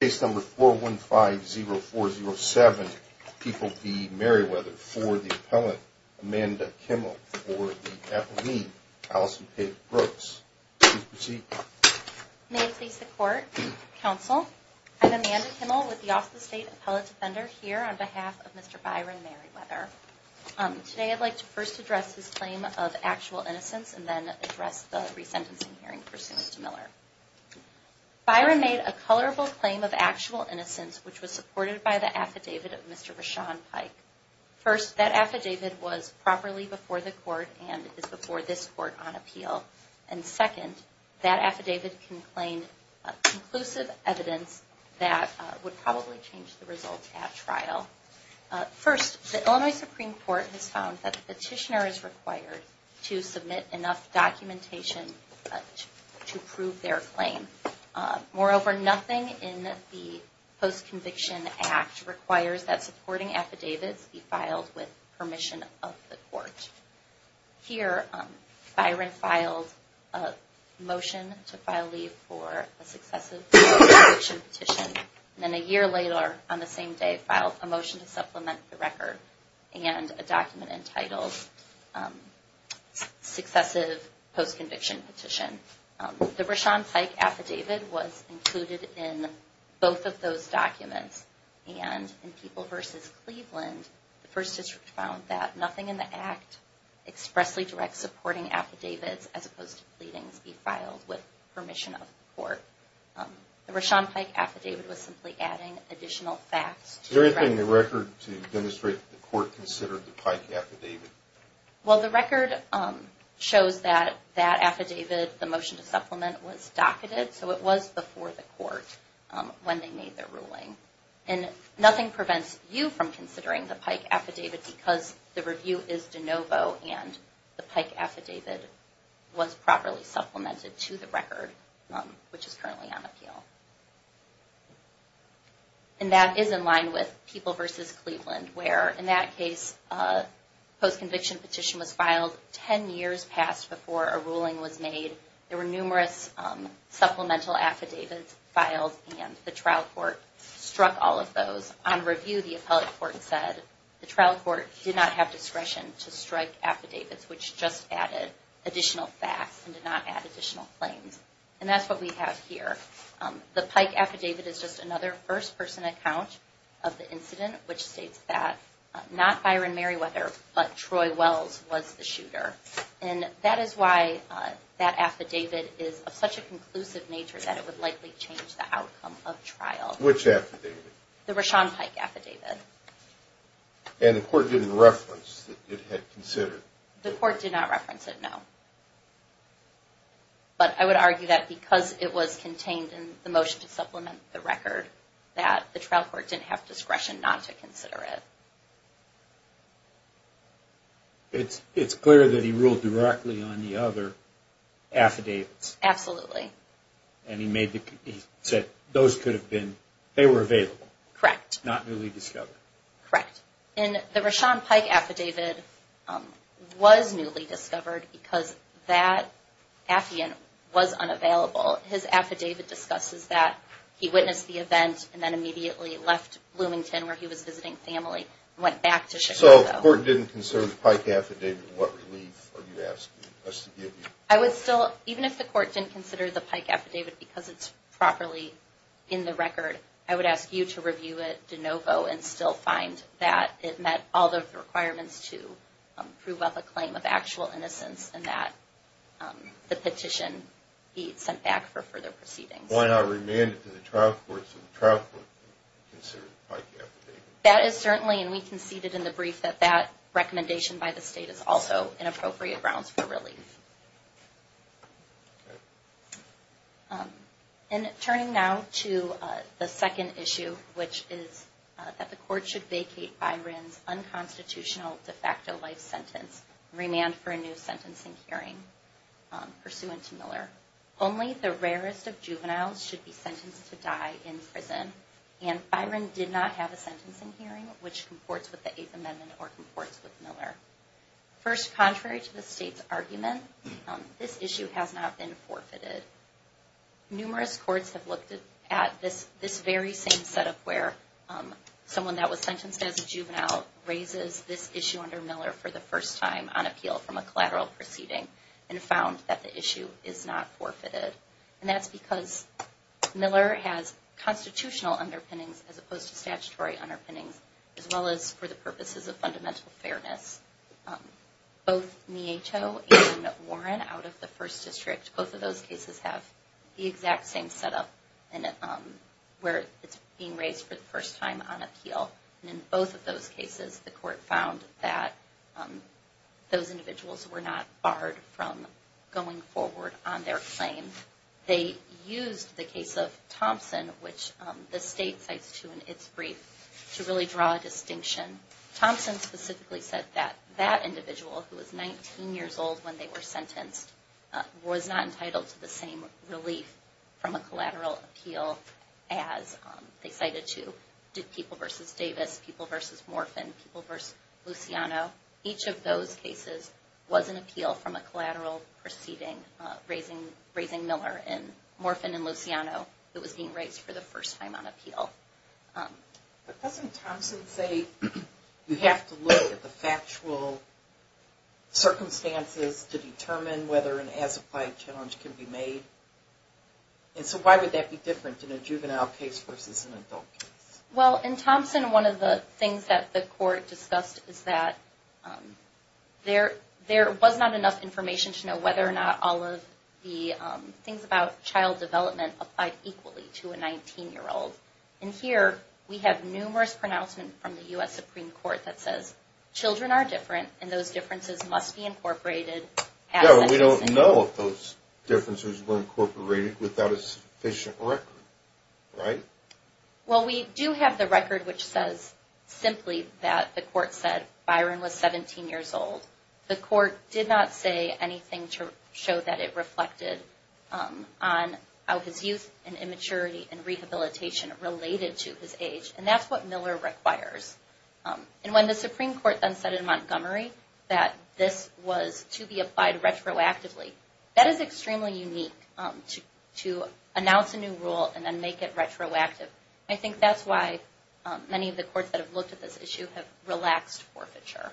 case number 4150407. People be Merriweather for the appellate Amanda Kimmel for me, Alison Pate Brooks. May it please the court, counsel. I'm Amanda Kimmel with the Austin State Appellate Defender here on behalf of Mr. Byron Merriweather. Today, I'd like to first address his claim of actual innocence and then address the resentencing hearing pursuant to Miller. Byron made a colorable claim of actual innocence, which was supported by the affidavit of Mr. Rashawn Pike. First, that affidavit was properly before the court and is before this court on appeal. And second, that affidavit can claim conclusive evidence that would probably change the results at trial. First, the Illinois Supreme Court has found that the petitioner is required to submit enough documentation to prove their claim. Moreover, nothing in the post-conviction act requires that supporting affidavits be filed with permission of the court. Here, Byron filed a motion to file leave for a successive petition. And then a year later, on the same day, filed a motion to supplement the record and a document entitled successive post-conviction petition. The Rashawn Pike affidavit was included in both of those documents. And in People v. Cleveland, the First District found that nothing in the act expressly directs supporting affidavits as opposed to pleadings be filed with permission. Is there anything in the record to demonstrate that the court considered the Pike affidavit? Well, the record shows that that affidavit, the motion to supplement, was docketed, so it was before the court when they made their ruling. And nothing prevents you from considering the Pike affidavit because the review is de novo and the Pike affidavit was properly supplemented to the record, which is currently on appeal. And that is in line with People v. Cleveland, where in that case, a post-conviction petition was filed 10 years past before a ruling was made. There were numerous supplemental affidavits filed and the trial court struck all of those. On review, the appellate court said the trial court did not have discretion to strike affidavits, which just added additional facts and did not add additional claims. And that's what we have here. The Pike affidavit is just another first-person account of the incident, which states that not Byron Merriweather, but Troy Wells was the shooter. And that is why that affidavit is of such a conclusive nature that it would likely change the outcome of trial. Which affidavit? The Rashawn Pike affidavit. And the court didn't reference that it had considered? The court did not reference it, no. But I would argue that because it was contained in the motion to supplement the record, that the trial court didn't have discretion not to consider it. It's clear that he ruled directly on the other affidavits. Absolutely. And he said those could not be newly discovered. Correct. And the Rashawn Pike affidavit was newly discovered because that affiant was unavailable. His affidavit discusses that he witnessed the event and then immediately left Bloomington where he was visiting family and went back to Chicago. So the court didn't consider the Pike affidavit and what relief are you asking us to give you? I would still, even if the court didn't consider the Pike affidavit because it's properly in the record, I would ask you to review it de novo and still find that it met all the requirements to prove up a claim of actual innocence and that the petition be sent back for further proceedings. Why not remand it to the trial court so the trial court can consider the Pike affidavit? That is certainly, and we conceded in the brief, that that recommendation by the state is also an appropriate grounds for relief. Okay. And turning now to the second issue, which is that the court should vacate Byron's unconstitutional de facto life sentence, remand for a new sentencing hearing pursuant to Miller. Only the rarest of juveniles should be sentenced to die in prison and Byron did not have a sentencing hearing which comports with the Eighth Amendment or comports with Miller. First, contrary to the argument, this issue has not been forfeited. Numerous courts have looked at this very same setup where someone that was sentenced as a juvenile raises this issue under Miller for the first time on appeal from a collateral proceeding and found that the issue is not forfeited. And that's because Miller has constitutional underpinnings as opposed to statutory underpinnings as well as for the purposes of fundamental fairness. Both Nieto and Warren out of the First District, both of those cases have the exact same setup where it's being raised for the first time on appeal. And in both of those cases, the court found that those individuals were not barred from going forward on their claim. They used the case of Thompson, which the state cites too in its brief, to really draw a distinction. Thompson specifically said that that individual who was 19 years old when they were sentenced was not entitled to the same relief from a collateral appeal as they cited to people versus Davis, people versus Morphin, people versus Luciano. Each of those cases was an appeal from a collateral proceeding raising Miller and Morphin and Luciano. It was being raised for the first time on appeal. But doesn't Thompson say you have to look at the factual circumstances to determine whether an as-applied challenge can be made? And so why would that be different in a juvenile case versus an adult case? Well, in Thompson, one of the things that the court discussed is that there was not enough information to know whether or not all of the things about child development applied equally to a 19-year-old. And here we have numerous pronouncements from the U.S. Supreme Court that says children are different and those differences must be incorporated. Yeah, but we don't know if those differences were incorporated without a sufficient record, right? Well, we do have the record which says simply that the court said Byron was 17 years old. The court did not say anything to show that it reflected on how his youth and immaturity and rehabilitation related to his age and that's what Miller requires. And when the Supreme Court then said in Montgomery that this was to be applied retroactively, that is extremely unique to announce a new rule and then make it retroactive. I think that's why many of the courts that have looked at this issue have relaxed forfeiture.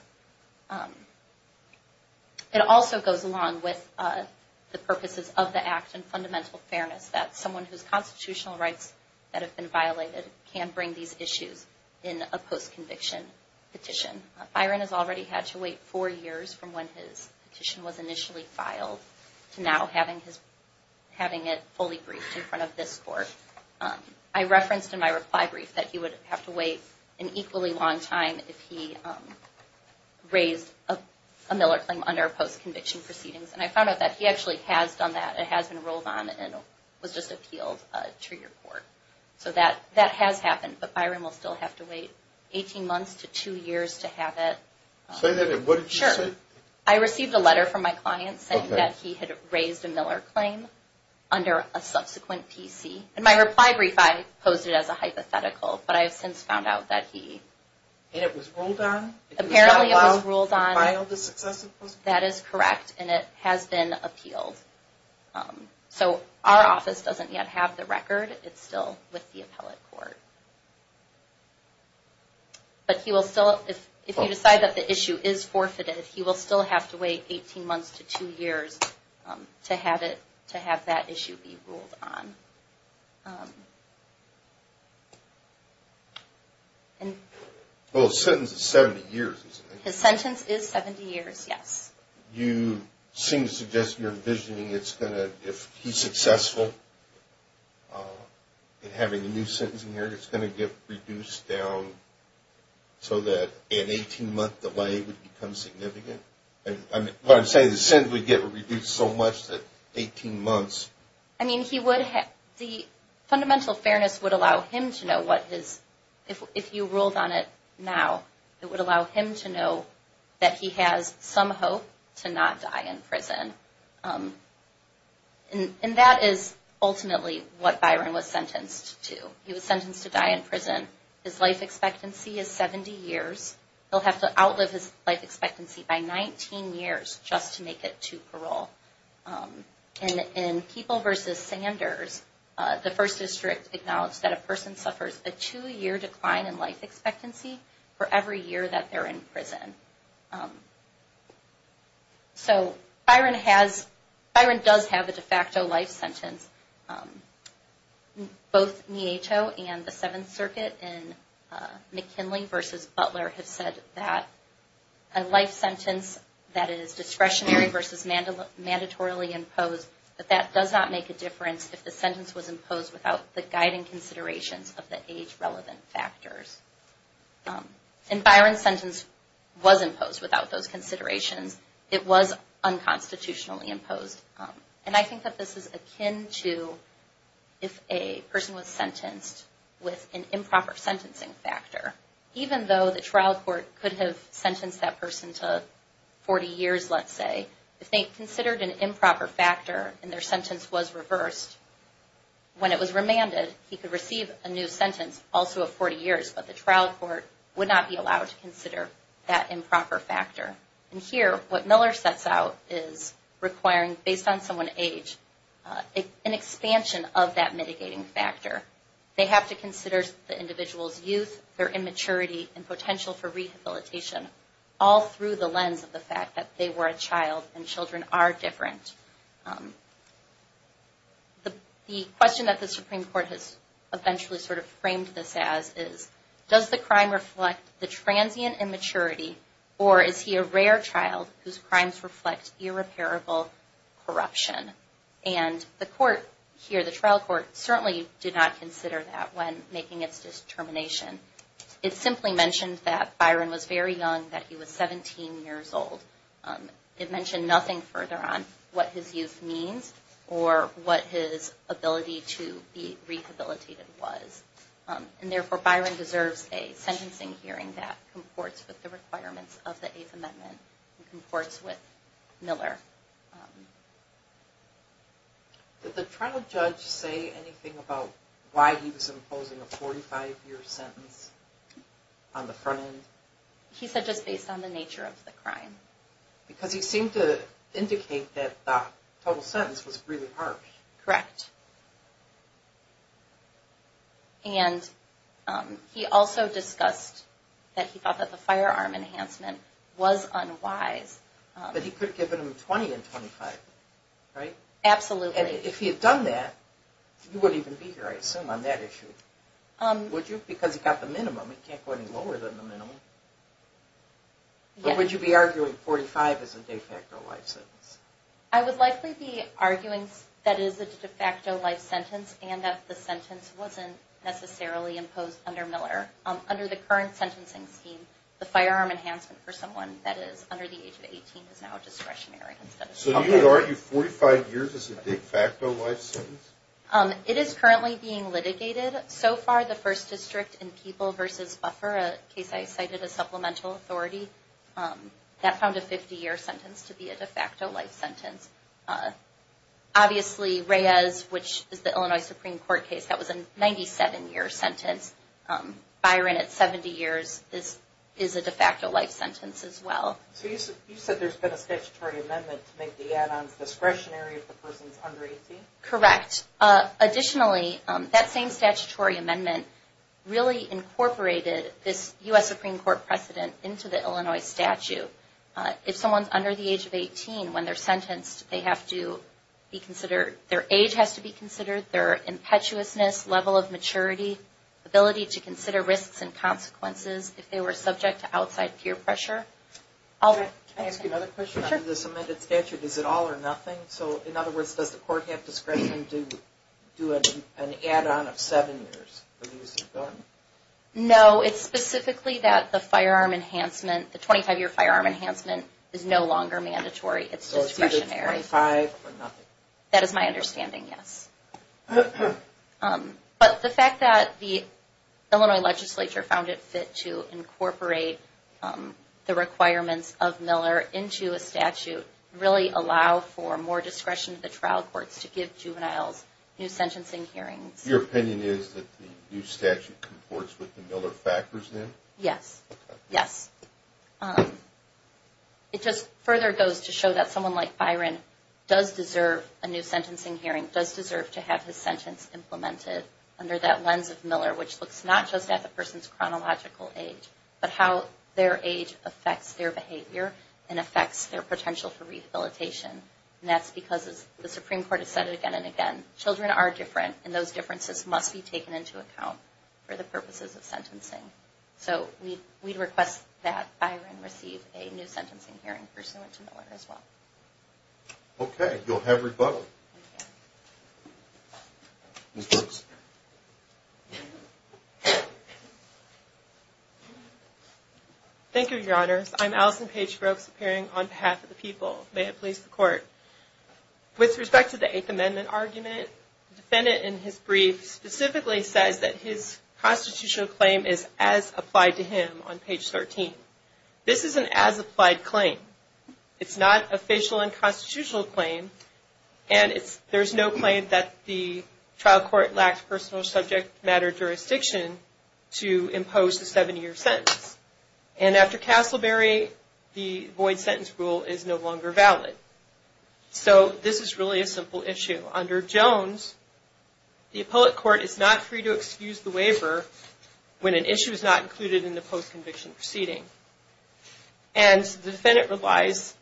It also goes along with the purposes of the act and fundamental fairness that someone whose constitutional rights that have been violated can bring these issues in a post-conviction petition. Byron has already had to wait four years from when his petition was initially filed to now having it fully briefed in front of this court. I referenced in my reply brief that he would have to wait an equally long time if he raised a Miller claim under post-conviction proceedings and I found out that he actually has done that. It has been rolled on and was just appealed to your court. So that that has happened, but Byron will still have to wait 18 months to two years to have it. Say that again, what did you say? I received a letter from my client saying that he had raised a subsequent PC and my reply brief, I posed it as a hypothetical, but I have since found out that he And it was ruled on? Apparently it was ruled on. It was not allowed to file the successive post-conviction? That is correct and it has been appealed. So our office doesn't yet have the record. It's still with the appellate court. But he will still, if you decide that the issue is forfeited, he will still have to wait 18 months to two years to have it, to have that issue be ruled on. Well his sentence is 70 years, isn't it? His sentence is 70 years, yes. You seem to suggest you're envisioning it's going to, if he's successful in having a new sentencing error, it's going to get significant? What I'm saying is the sentence would get reduced so much that 18 months? I mean he would have, the fundamental fairness would allow him to know what his, if you ruled on it now, it would allow him to know that he has some hope to not die in prison. And that is ultimately what Byron was sentenced to. He was sentenced to die in prison. His life expectancy is 70 years. He'll have to increase his life expectancy by 19 years just to make it to parole. And in People v. Sanders, the First District acknowledged that a person suffers a two-year decline in life expectancy for every year that they're in prison. So Byron has, Byron does have a de facto life sentence. Both Neato and the Seventh Circuit in McKinley v. Butler have said that a life sentence that is discretionary versus mandatorily imposed, that that does not make a difference if the sentence was imposed without the guiding considerations of the age-relevant factors. And Byron's sentence was imposed without those considerations. It was unconstitutionally imposed. And I think that this is akin to if a person was sentenced with an improper sentencing factor. Even though the trial court could have sentenced that person to 40 years, let's say, if they considered an improper factor and their sentence was reversed, when it was remanded, he could receive a new sentence, also of 40 years, but the trial court would not be allowed to consider that improper factor. And here, what Miller sets out is requiring, based on someone's age, an expansion of that mitigating factor. They have to consider the individual's youth, their immaturity, and potential for rehabilitation, all through the lens of the fact that they were a child and children are different. The question that the Supreme Court has eventually sort of framed this as is, does the crime reflect the transient immaturity or is he a rare child whose crimes reflect irreparable corruption? And the court here, the trial court, certainly did not consider that when making its determination. It simply mentioned that Byron was very young, that he was 17 years old. It mentioned nothing further on what his youth means or what his ability to be rehabilitated was. And therefore, Byron deserves a sentencing hearing that comports with the requirements of the Eighth Amendment and comports with Miller. Did the trial judge say anything about why he was imposing a 45-year sentence on the front end? He said just based on the nature of the crime. Because he seemed to indicate that the total sentence was really harsh. Correct. And he also discussed that he thought that the firearm enhancement was unwise. But he could have given him 20 and 25, right? Absolutely. And if he had done that, you wouldn't even be here, I assume, on that issue. Would you? Because he got the minimum. He can't go any lower than the minimum. But would you be arguing 45 as a de facto life sentence? I would likely be arguing that it is a de facto life sentence and that the sentence wasn't necessarily imposed under Miller. Under the current sentencing scheme, the firearm enhancement for someone that is under the age of 18 is now discretionary. So you would argue 45 years is a de facto life sentence? It is currently being litigated. So far, the First District in People v. Buffer, a case I cited as supplemental authority, that found a 50-year sentence to be a de facto life sentence. Obviously, Reyes, which is the Illinois Supreme Court case, that was a 97-year sentence. Byron at 70 years, this is a de facto life sentence as well. So you said there's been a statutory amendment to make the add-ons discretionary if the person's under 18? Correct. Additionally, that same statutory amendment really incorporated this U.S. Supreme Court precedent into the Illinois statute. If someone's under the age of 18 when they're sentenced, their age has to be considered, their impetuousness, level of maturity, ability to consider risks and consequences if they were subject to outside peer pressure. Can I ask you another question on this amended statute? Is it all or nothing? So in other words, does the court have discretion to an add-on of seven years? No, it's specifically that the firearm enhancement, the 25-year firearm enhancement, is no longer mandatory. It's discretionary. So it's either 25 or nothing? That is my understanding, yes. But the fact that the Illinois legislature found it fit to incorporate the requirements of Miller into a statute really allow for more discretion to the hearings. Your opinion is that the new statute comports with the Miller factors then? Yes. It just further goes to show that someone like Byron does deserve a new sentencing hearing, does deserve to have his sentence implemented under that lens of Miller, which looks not just at the person's chronological age, but how their age affects their behavior and affects their potential for rehabilitation. And that's because the Supreme Court has said it again and again, children are different and those differences must be taken into account for the purposes of sentencing. So we'd request that Byron receive a new sentencing hearing pursuant to Miller as well. Okay. You'll have rebuttal. Thank you, Your Honors. I'm Allison Paige Brooks appearing on behalf of the people. May it please the Court. With respect to the Eighth Amendment argument, the defendant in his brief specifically says that his constitutional claim is as applied to him on page 13. This is an as-applied claim. It's not a facial unconstitutional claim and there's no claim that the trial court lacked personal subject matter jurisdiction to impose the seven-year sentence. And after Castleberry, the void sentence rule is no longer valid. So this is really a simple issue. Under Jones, the appellate court is not free to excuse the waiver when an issue is not included in the post-conviction proceeding. And the defendant relies,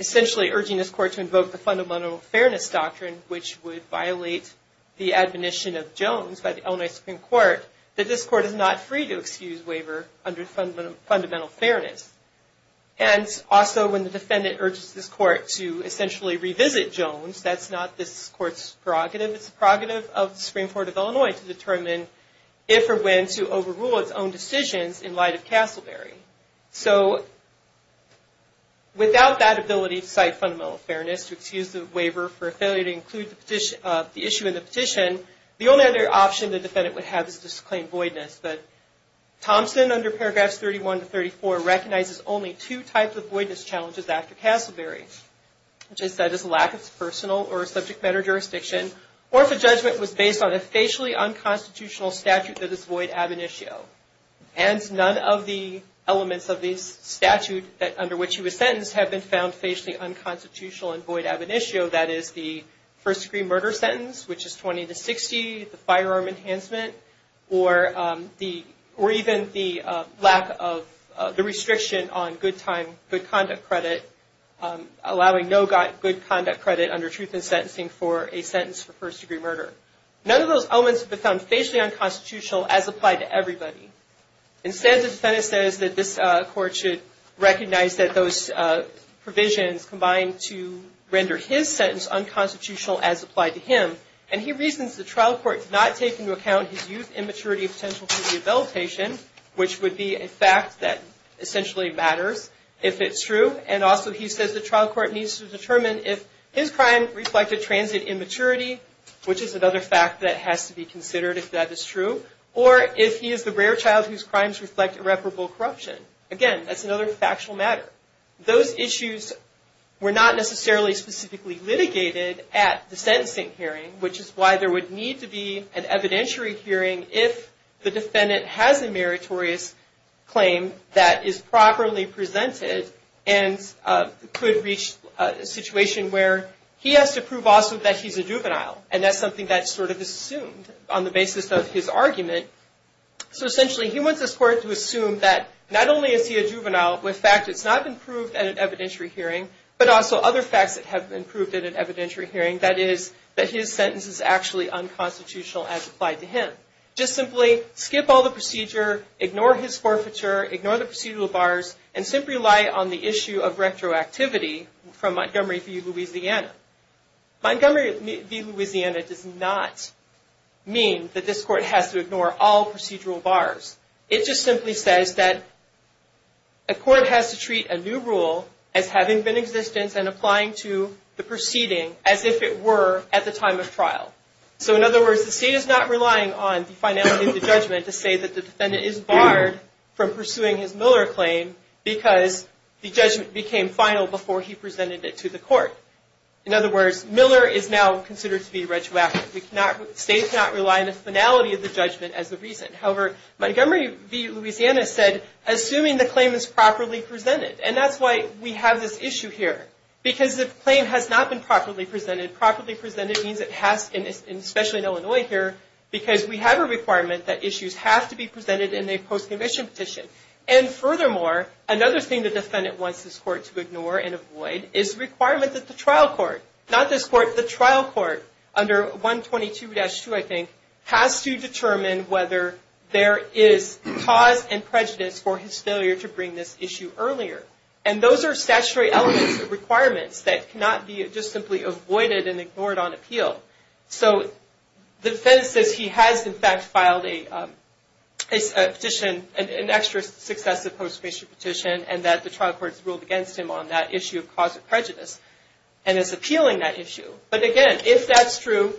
essentially urging this court to invoke the fundamental fairness doctrine, which would violate the admonition of Jones by the Illinois Supreme Court, that this court is not free to excuse waiver under fundamental fairness. And also when the defendant urges this court to essentially revisit Jones, that's not this court's prerogative. It's the prerogative of the Supreme Court of Illinois to determine if or when to overrule its own decisions in light of Castleberry. So without that ability to cite fundamental fairness, to excuse the waiver for failure to include the issue in the petition, the only other option the defendant would have is to claim voidness. But Thompson, under paragraphs 31 to 34, recognizes only two types of voidness challenges after Castleberry, which is that it's a lack of personal or subject matter jurisdiction, or if a judgment was based on a facially unconstitutional statute that is void ab initio. Hence, none of the elements of the statute under which he was sentenced have been found facially unconstitutional and void ab initio, that is the first degree murder sentence, which is 20 to 60, the firearm enhancement, or even the lack of the restriction on good time, good conduct credit, allowing no good conduct credit under truth in sentencing for a sentence for first degree murder. None of those elements have been found facially unconstitutional as applied to everybody. Instead, the defendant says that this court should recognize that those provisions combine to render his sentence unconstitutional as applied to him, and he reasons the trial court did not take into account his youth immaturity potential for rehabilitation, which would be a fact that essentially matters if it's true, and also he says the trial court needs to determine if his crime reflected transient immaturity, which is another fact that has to be considered if that is true, or if he is the rare child whose crimes reflect irreparable corruption. Again, that's another factual matter. Those issues were not necessarily specifically litigated at the sentencing hearing, which is why there would need to be an evidentiary hearing if the defendant has a meritorious claim that is properly presented and could reach a situation where he has to prove also that he's a juvenile, and that's something sort of assumed on the basis of his argument. So essentially, he wants this court to assume that not only is he a juvenile with fact it's not been proved at an evidentiary hearing, but also other facts that have been proved in an evidentiary hearing, that is, that his sentence is actually unconstitutional as applied to him. Just simply skip all the procedure, ignore his forfeiture, ignore the procedural bars, and simply rely on the issue of retroactivity from Montgomery v. Louisiana does not mean that this court has to ignore all procedural bars. It just simply says that a court has to treat a new rule as having been in existence and applying to the proceeding as if it were at the time of trial. So in other words, the state is not relying on the finality of the judgment to say that the defendant is barred from pursuing his Miller claim because the judgment became final before he presented it to the court. In other words, Miller is now considered to be retroactive. States cannot rely on the finality of the judgment as the reason. However, Montgomery v. Louisiana said, assuming the claim is properly presented, and that's why we have this issue here. Because if the claim has not been properly presented, properly presented means it has, especially in Illinois here, because we have a requirement that issues have to be presented in a post-conviction petition. And furthermore, another thing the defendant wants this court to ignore and avoid is the requirement that the trial court, not this court, the trial court under 122-2, I think, has to determine whether there is cause and prejudice for his failure to bring this issue earlier. And those are statutory elements of requirements that cannot be just simply avoided and ignored on appeal. So the defense says he has in fact filed a petition, an extra successive post-conviction petition, and that the trial court has ruled against him on that issue of cause of prejudice and is appealing that issue. But again, if that's true,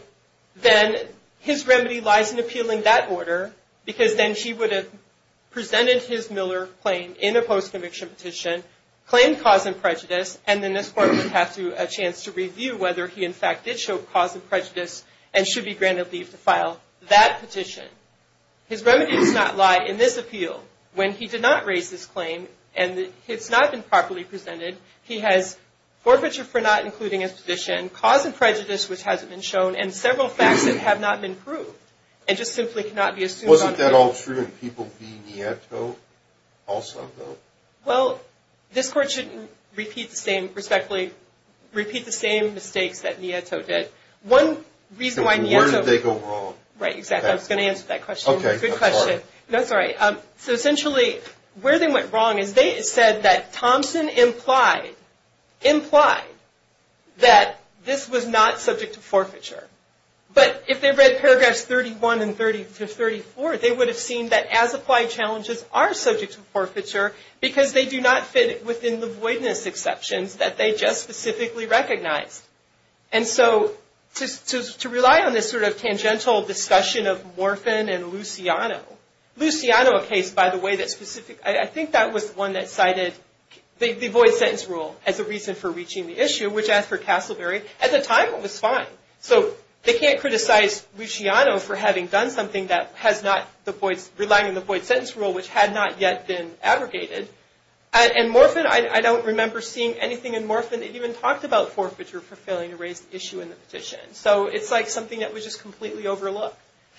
then his remedy lies in appealing that order because then he would have presented his Miller claim in a post-conviction petition, claimed cause and prejudice, and then this court would have a chance to review whether he in fact did show cause of prejudice and should be granted leave to file that petition. His remedy does not lie in this appeal. When he did not raise this claim and it's not been properly presented, he has forfeiture for not including his petition, cause of prejudice which hasn't been shown, and several facts that have not been proved. It just simply cannot be assumed on appeal. Wasn't that all true in people v. Nieto also, though? Well, this court shouldn't repeat the same, respectfully, repeat the same mistakes that Nieto did. One reason why Nieto... Where did they go wrong? Right, exactly. I was going to answer that question. Good question. No, sorry. So essentially where they went wrong is they said that Thompson implied, implied that this was not subject to forfeiture. But if they read paragraphs 31 and 30 to 34, they would have seen that as-applied challenges are subject to forfeiture because they do not fit within the voidness exceptions that they just specifically recognized. And so to rely on this tangential discussion of Morphin and Luciano, Luciano a case, by the way, that specific... I think that was one that cited the void sentence rule as a reason for reaching the issue, which as for Castleberry, at the time it was fine. So they can't criticize Luciano for having done something that has not the void, relying on the void sentence rule, which had not yet been aggregated. And Morphin, I don't remember seeing anything in Morphin that even talked about forfeiture for failing to raise the issue in the petition. So it's like something that was just completely overlooked.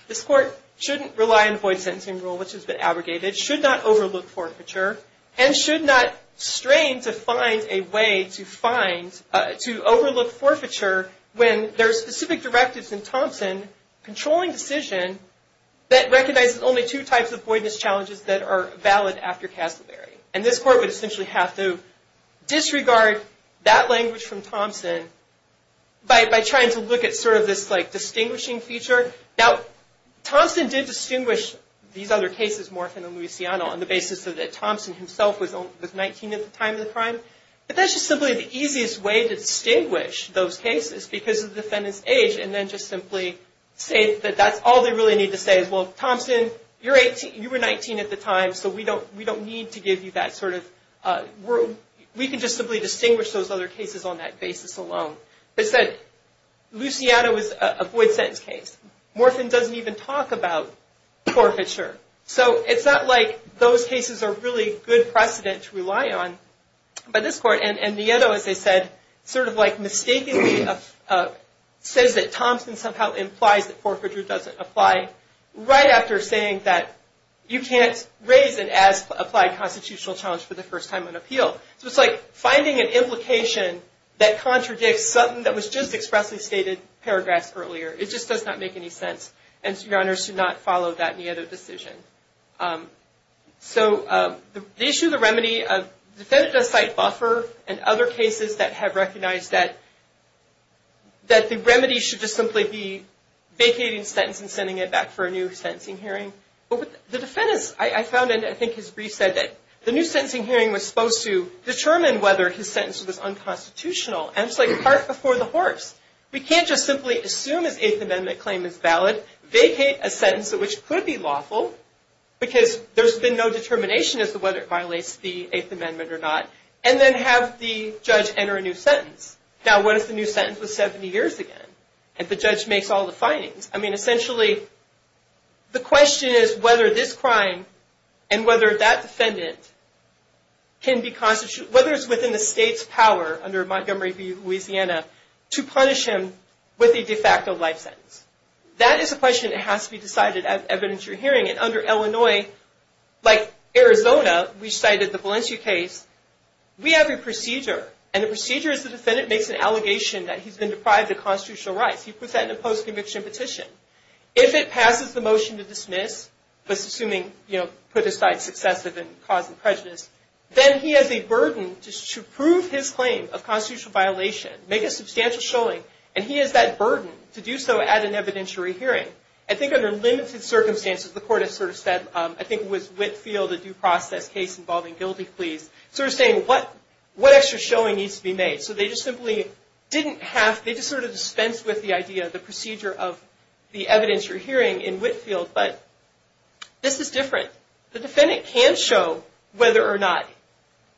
This court shouldn't rely on the void sentencing rule, which has been aggregated, should not overlook forfeiture, and should not strain to find a way to find, to overlook forfeiture when there are specific directives in Thompson controlling decision that recognizes only two types of voidness challenges that are valid after Castleberry. And this court would essentially have to disregard that language from Thompson by trying to look at this distinguishing feature. Now, Thompson did distinguish these other cases, Morphin and Luciano, on the basis that Thompson himself was 19 at the time of the crime. But that's just simply the easiest way to distinguish those cases because of the defendant's age, and then just simply say that that's all they really need to say is, well, Thompson, you were 19 at the time, so we don't need to give you that sort of... We can just simply distinguish those other cases on that basis alone. But Luciano is a void sentence case. Morphin doesn't even talk about forfeiture. So it's not like those cases are really good precedent to rely on by this court. And Nieto, as I said, sort of mistakenly says that Thompson somehow implies that forfeiture doesn't apply right after saying that you can't raise an as-applied constitutional challenge for the that contradicts something that was just expressly stated paragraphs earlier. It just does not make any sense, and your honors should not follow that Nieto decision. So the issue, the remedy, the defendant does cite buffer and other cases that have recognized that that the remedy should just simply be vacating the sentence and sending it back for a new sentencing hearing. But the defendant, I found in, I think, his brief said that the new sentencing hearing was supposed to determine whether his sentence was unconstitutional, and it's like a cart before the horse. We can't just simply assume his Eighth Amendment claim is valid, vacate a sentence that which could be lawful, because there's been no determination as to whether it violates the Eighth Amendment or not, and then have the judge enter a new sentence. Now, what if the new sentence was 70 years again, and the judge makes all the findings? I mean, can be constitutional, whether it's within the state's power, under Montgomery v. Louisiana, to punish him with a de facto life sentence. That is a question that has to be decided as evidence you're hearing, and under Illinois, like Arizona, we cited the Valencia case. We have a procedure, and the procedure is the defendant makes an allegation that he's been deprived of constitutional rights. He puts that in a post-conviction petition. If it passes the motion to dismiss, just assuming, you know, put aside successive and causing prejudice, then he has a burden to prove his claim of constitutional violation, make a substantial showing, and he has that burden to do so at an evidentiary hearing. I think under limited circumstances, the court has sort of said, I think it was Whitfield, a due process case involving guilty pleas, sort of saying what extra showing needs to be made. So they just simply didn't have, they just sort of dispensed with the idea, the procedure of the evidentiary hearing in Whitfield but this is different. The defendant can show whether or not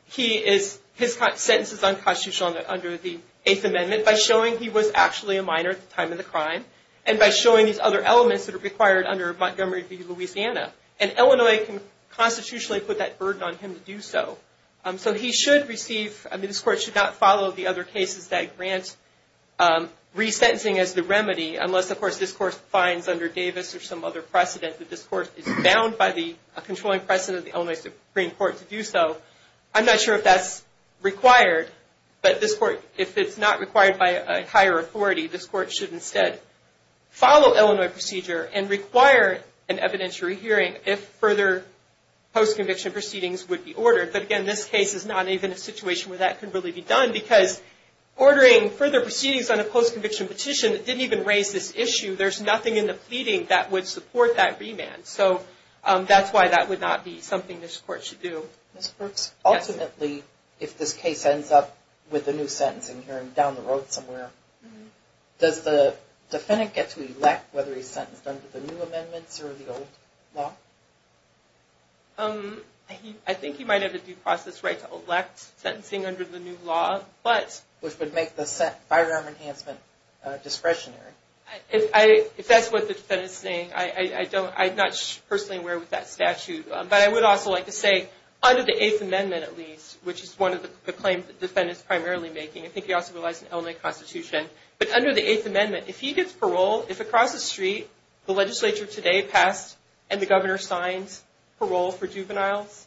he is, his sentence is unconstitutional under the Eighth Amendment by showing he was actually a minor at the time of the crime, and by showing these other elements that are required under Montgomery v. Louisiana, and Illinois can constitutionally put that burden on him to do so. So he should receive, I mean this court should not follow the other cases that grant resentencing as the remedy, unless of course this court finds under Davis or some other precedent that this court is bound by the controlling precedent of the Illinois Supreme Court to do so. I'm not sure if that's required, but this court, if it's not required by a higher authority, this court should instead follow Illinois procedure and require an evidentiary hearing if further post-conviction proceedings would be ordered. But again, this case is not even a situation where that could really be done because ordering further proceedings on a post-conviction petition that didn't even raise this issue, there's nothing in the pleading that would support that remand. So that's why that would not be something this court should do. Ms. Brooks, ultimately if this case ends up with a new sentencing hearing down the road somewhere, does the defendant get to elect whether he's sentenced under the new amendments or the old law? I think he might have a due process right to elect sentencing under the new law, which would make the firearm enhancement discretionary. If that's what the defendant is saying, I'm not personally aware of that statute, but I would also like to say under the Eighth Amendment at least, which is one of the claims the defendant is primarily making, I think he also relies on the Illinois Constitution, but under the Eighth Amendment, if he gets parole, if across the street, the legislature today passed and the governor signs parole for juveniles,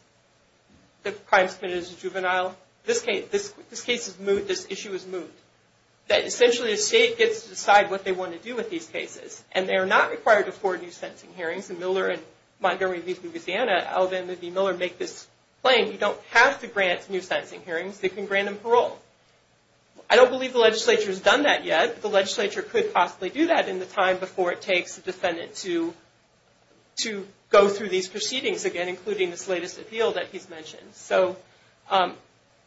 the crimes committed as a juvenile, this case is moved, this issue is moved. That essentially the state gets to decide what they want to do with these cases, and they are not required to forward new sentencing hearings. And Miller and Montgomery v. Louisiana, Alvin v. Miller make this claim, you don't have to grant new sentencing hearings, they can grant them parole. I don't believe the legislature has done that yet, but the legislature could possibly do that in the time before it takes the defendant to go through these proceedings again, including this latest appeal that he's mentioned. So,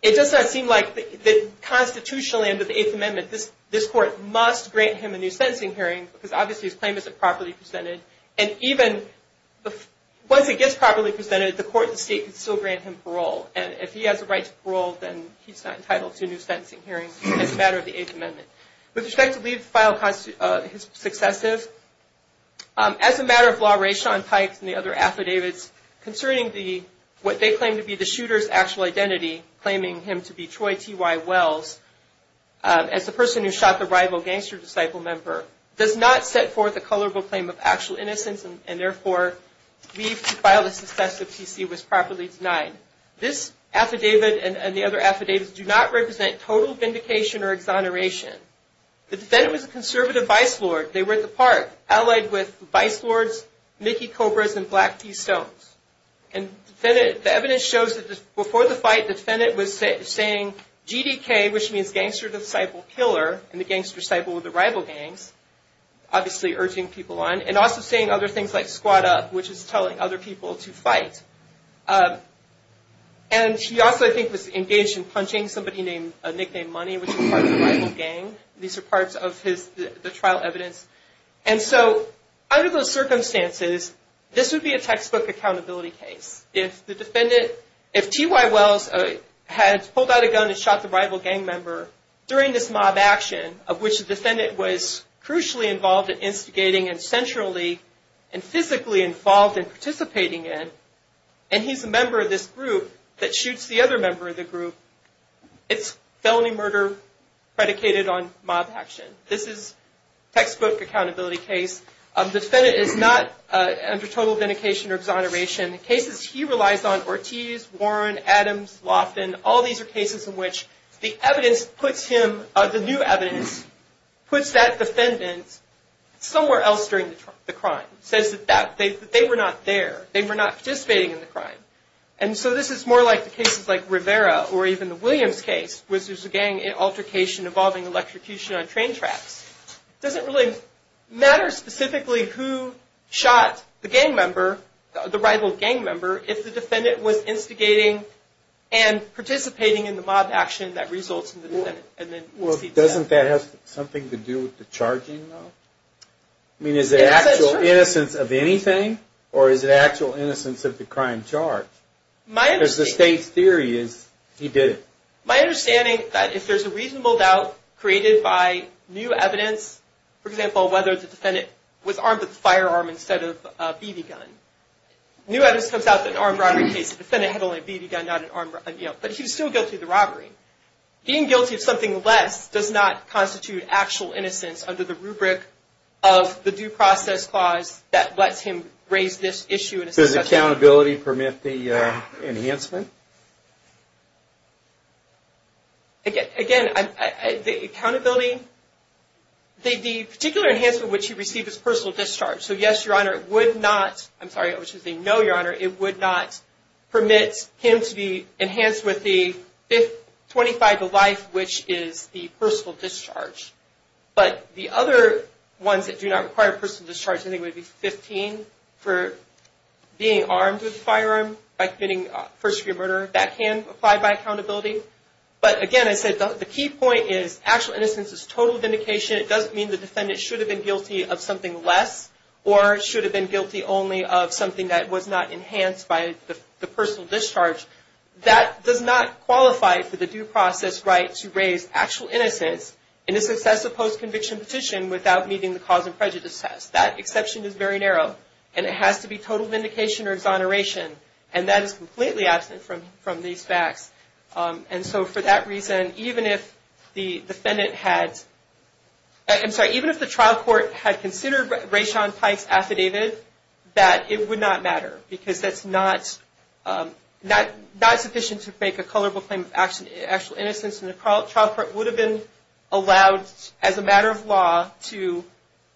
it does not seem like the constitutional end of the Eighth Amendment, this court must grant him a new sentencing hearing, because obviously his claim isn't properly presented, and even once it gets properly presented, the court and the state can still grant him parole. And if he has a right to parole, then he's not entitled to a new sentencing hearing as a matter of the Eighth Amendment. With respect to Lee's file, his successive, as a matter of law, Ray Sean Pike and the other affidavits concerning what they claim to be the shooter's actual identity, claiming him to be Troy T.Y. Wells, as the person who shot the rival gangster disciple member, does not set forth a colorable claim of actual innocence, and therefore, Lee's file, the successive PC, was properly denied. This affidavit and the other affidavits do not represent total vindication or exoneration. The defendant was a conservative vice lord, they were at the park, allied with vice lords Mickey Cobras and Black T-Stones. And the evidence shows that before the fight, the defendant was saying GDK, which means gangster disciple killer, and the gangster disciple of the rival gangs, obviously urging people on, and also saying other things like squat up, which is telling other people to fight. And he also, I think, was engaged in punching somebody nicknamed Money, which is part of the rival gang. These are parts of the trial evidence. And so, under those circumstances, this would be a textbook accountability case. If the defendant, if T.Y. Wells had pulled out a gun and shot the rival gang member during this mob action, of which the defendant was crucially involved in instigating and centrally and physically involved in participating in, and he's a member of this group that shoots the other member of the group, it's felony murder predicated on mob action. This is textbook accountability case. Defendant is not under total vindication or exoneration. Cases he relies on, Ortiz, Warren, Adams, Lofton, all these are cases in which the evidence puts him, the new evidence, puts that defendant somewhere else during the crime. Says that they were not there. They were not participating in the crime. And so, this is more like the cases like Rivera or even the Williams case, which is a gang altercation involving electrocution on train tracks. It doesn't really matter specifically who shot the gang member, the rival gang member, if the defendant was instigating and participating in the mob action that results in the defendant. And then, we'll see. Doesn't that have something to do with the charging, though? I mean, is it actual innocence of anything? Or is it actual innocence of the crime charge? Because the state's theory is he did it. My understanding that if there's a reasonable doubt created by new evidence, for example, whether the defendant was armed with a firearm instead of a BB gun. New evidence comes out that an armed robbery case, the defendant had only a BB gun, not an armed robbery. But he's still guilty of the robbery. Being guilty of something less does not constitute actual innocence under the rubric of the due process clause that lets him raise this issue. Does accountability permit the enhancement? Again, the accountability, the particular enhancement which he received is personal discharge. So yes, Your Honor, it would not, I'm sorry, which is a no, Your Honor, it would not permit him to be enhanced with the 25 to life, which is the personal discharge. But the other ones that do not require personal discharge, I think would be 15 for being armed with a firearm by committing first degree murder. That can apply by accountability. But again, I said the key point is actual innocence is total vindication. It doesn't mean the defendant should have been guilty of something less or should have been guilty only of something that was not enhanced by the personal discharge. That does not qualify for the due process right to raise actual innocence in a successive post-conviction petition without meeting the cause and prejudice test. That exception is very narrow. And it has to be total vindication or exoneration. And that is completely absent from these facts. And so for that reason, even if the defendant had, I'm sorry, even if the trial court had considered Rayshawn Pikes affidavit, that it would not matter. Because that's not sufficient to make a colorable claim of actual innocence. And the trial court would have been allowed, as a matter of law, to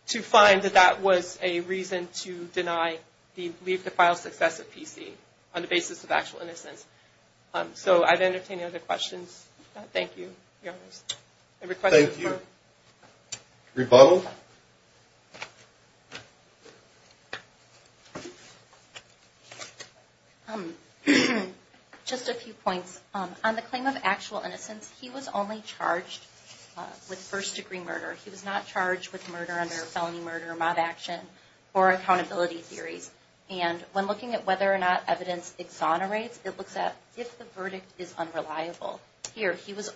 find that that was a reason to leave the file successive PC on the basis of actual innocence. So I've entertained any other questions. Thank you, Your Honors. I request a rebuttal. Just a few points. On the claim of actual innocence, he was only charged with first-degree murder. He was not charged with murder under felony murder, mob action, or accountability theories. And when looking at whether or not evidence exonerates, it looks at if the verdict is unreliable. Here, he was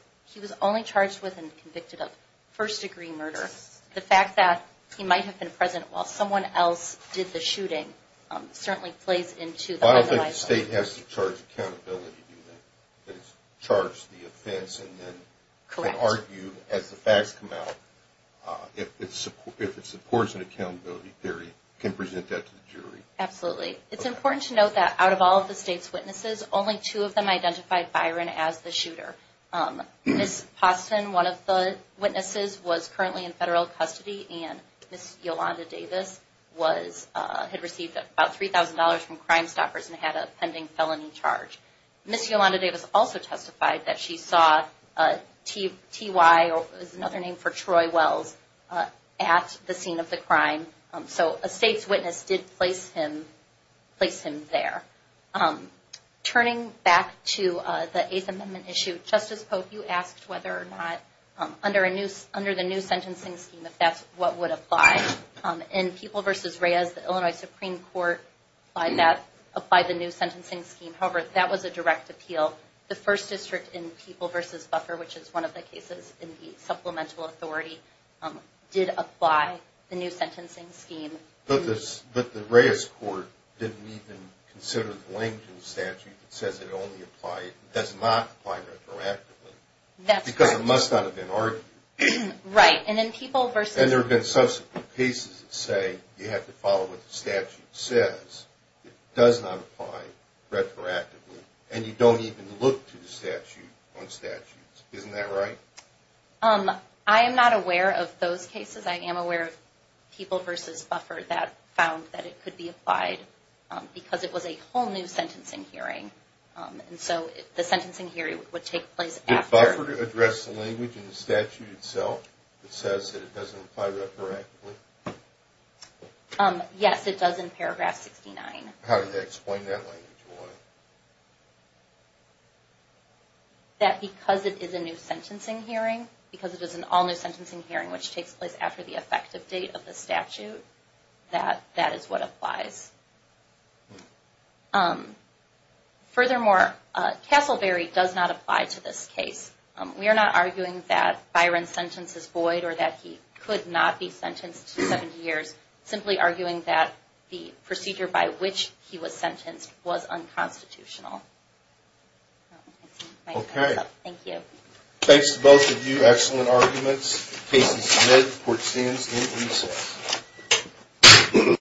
only charged with and convicted of first-degree murder. The fact that he might have been present while someone else did the shooting certainly plays into the... State has to charge accountability, do they? That it's charged the offense and then can argue, as the facts come out, if it supports an accountability theory, can present that to the jury. Absolutely. It's important to note that out of all of the state's witnesses, only two of them identified Byron as the shooter. Ms. Pauston, one of the witnesses, was currently in federal custody. And Ms. Yolanda Davis had received about $3,000 from Crimestoppers and had a pending felony charge. Ms. Yolanda Davis also testified that she saw T.Y., another name for Troy Wells, at the scene of the crime. So a state's witness did place him there. Turning back to the Eighth Amendment issue, Justice Pope, you asked whether or not under the new sentencing scheme, if that's what would apply. In People v. Reyes, the Illinois Supreme Court applied the new sentencing scheme. However, that was a direct appeal. The First District in People v. Buffer, which is one of the cases in the Supplemental Authority, did apply the new sentencing scheme. But the Reyes court didn't even consider the Langdon statute that says it only applies, does not apply retroactively. That's correct. It must not have been argued. Right. And in People v. And there have been subsequent cases that say you have to follow what the statute says. It does not apply retroactively. And you don't even look to the statute on statutes. Isn't that right? I am not aware of those cases. I am aware of People v. Buffer that found that it could be applied because it was a whole new sentencing hearing. And so the sentencing hearing would take place after. Address the language in the statute itself that says that it doesn't apply retroactively? Yes, it does in paragraph 69. How did they explain that language? That because it is a new sentencing hearing, because it is an all new sentencing hearing which takes place after the effective date of the statute, that that is what applies. Furthermore, Castleberry does not apply to this case. We are not arguing that Byron's sentence is void or that he could not be sentenced to 70 years. Simply arguing that the procedure by which he was sentenced was unconstitutional. Okay. Thank you. Thanks to both of you. Excellent arguments. Case is admitted. Court stands in recess.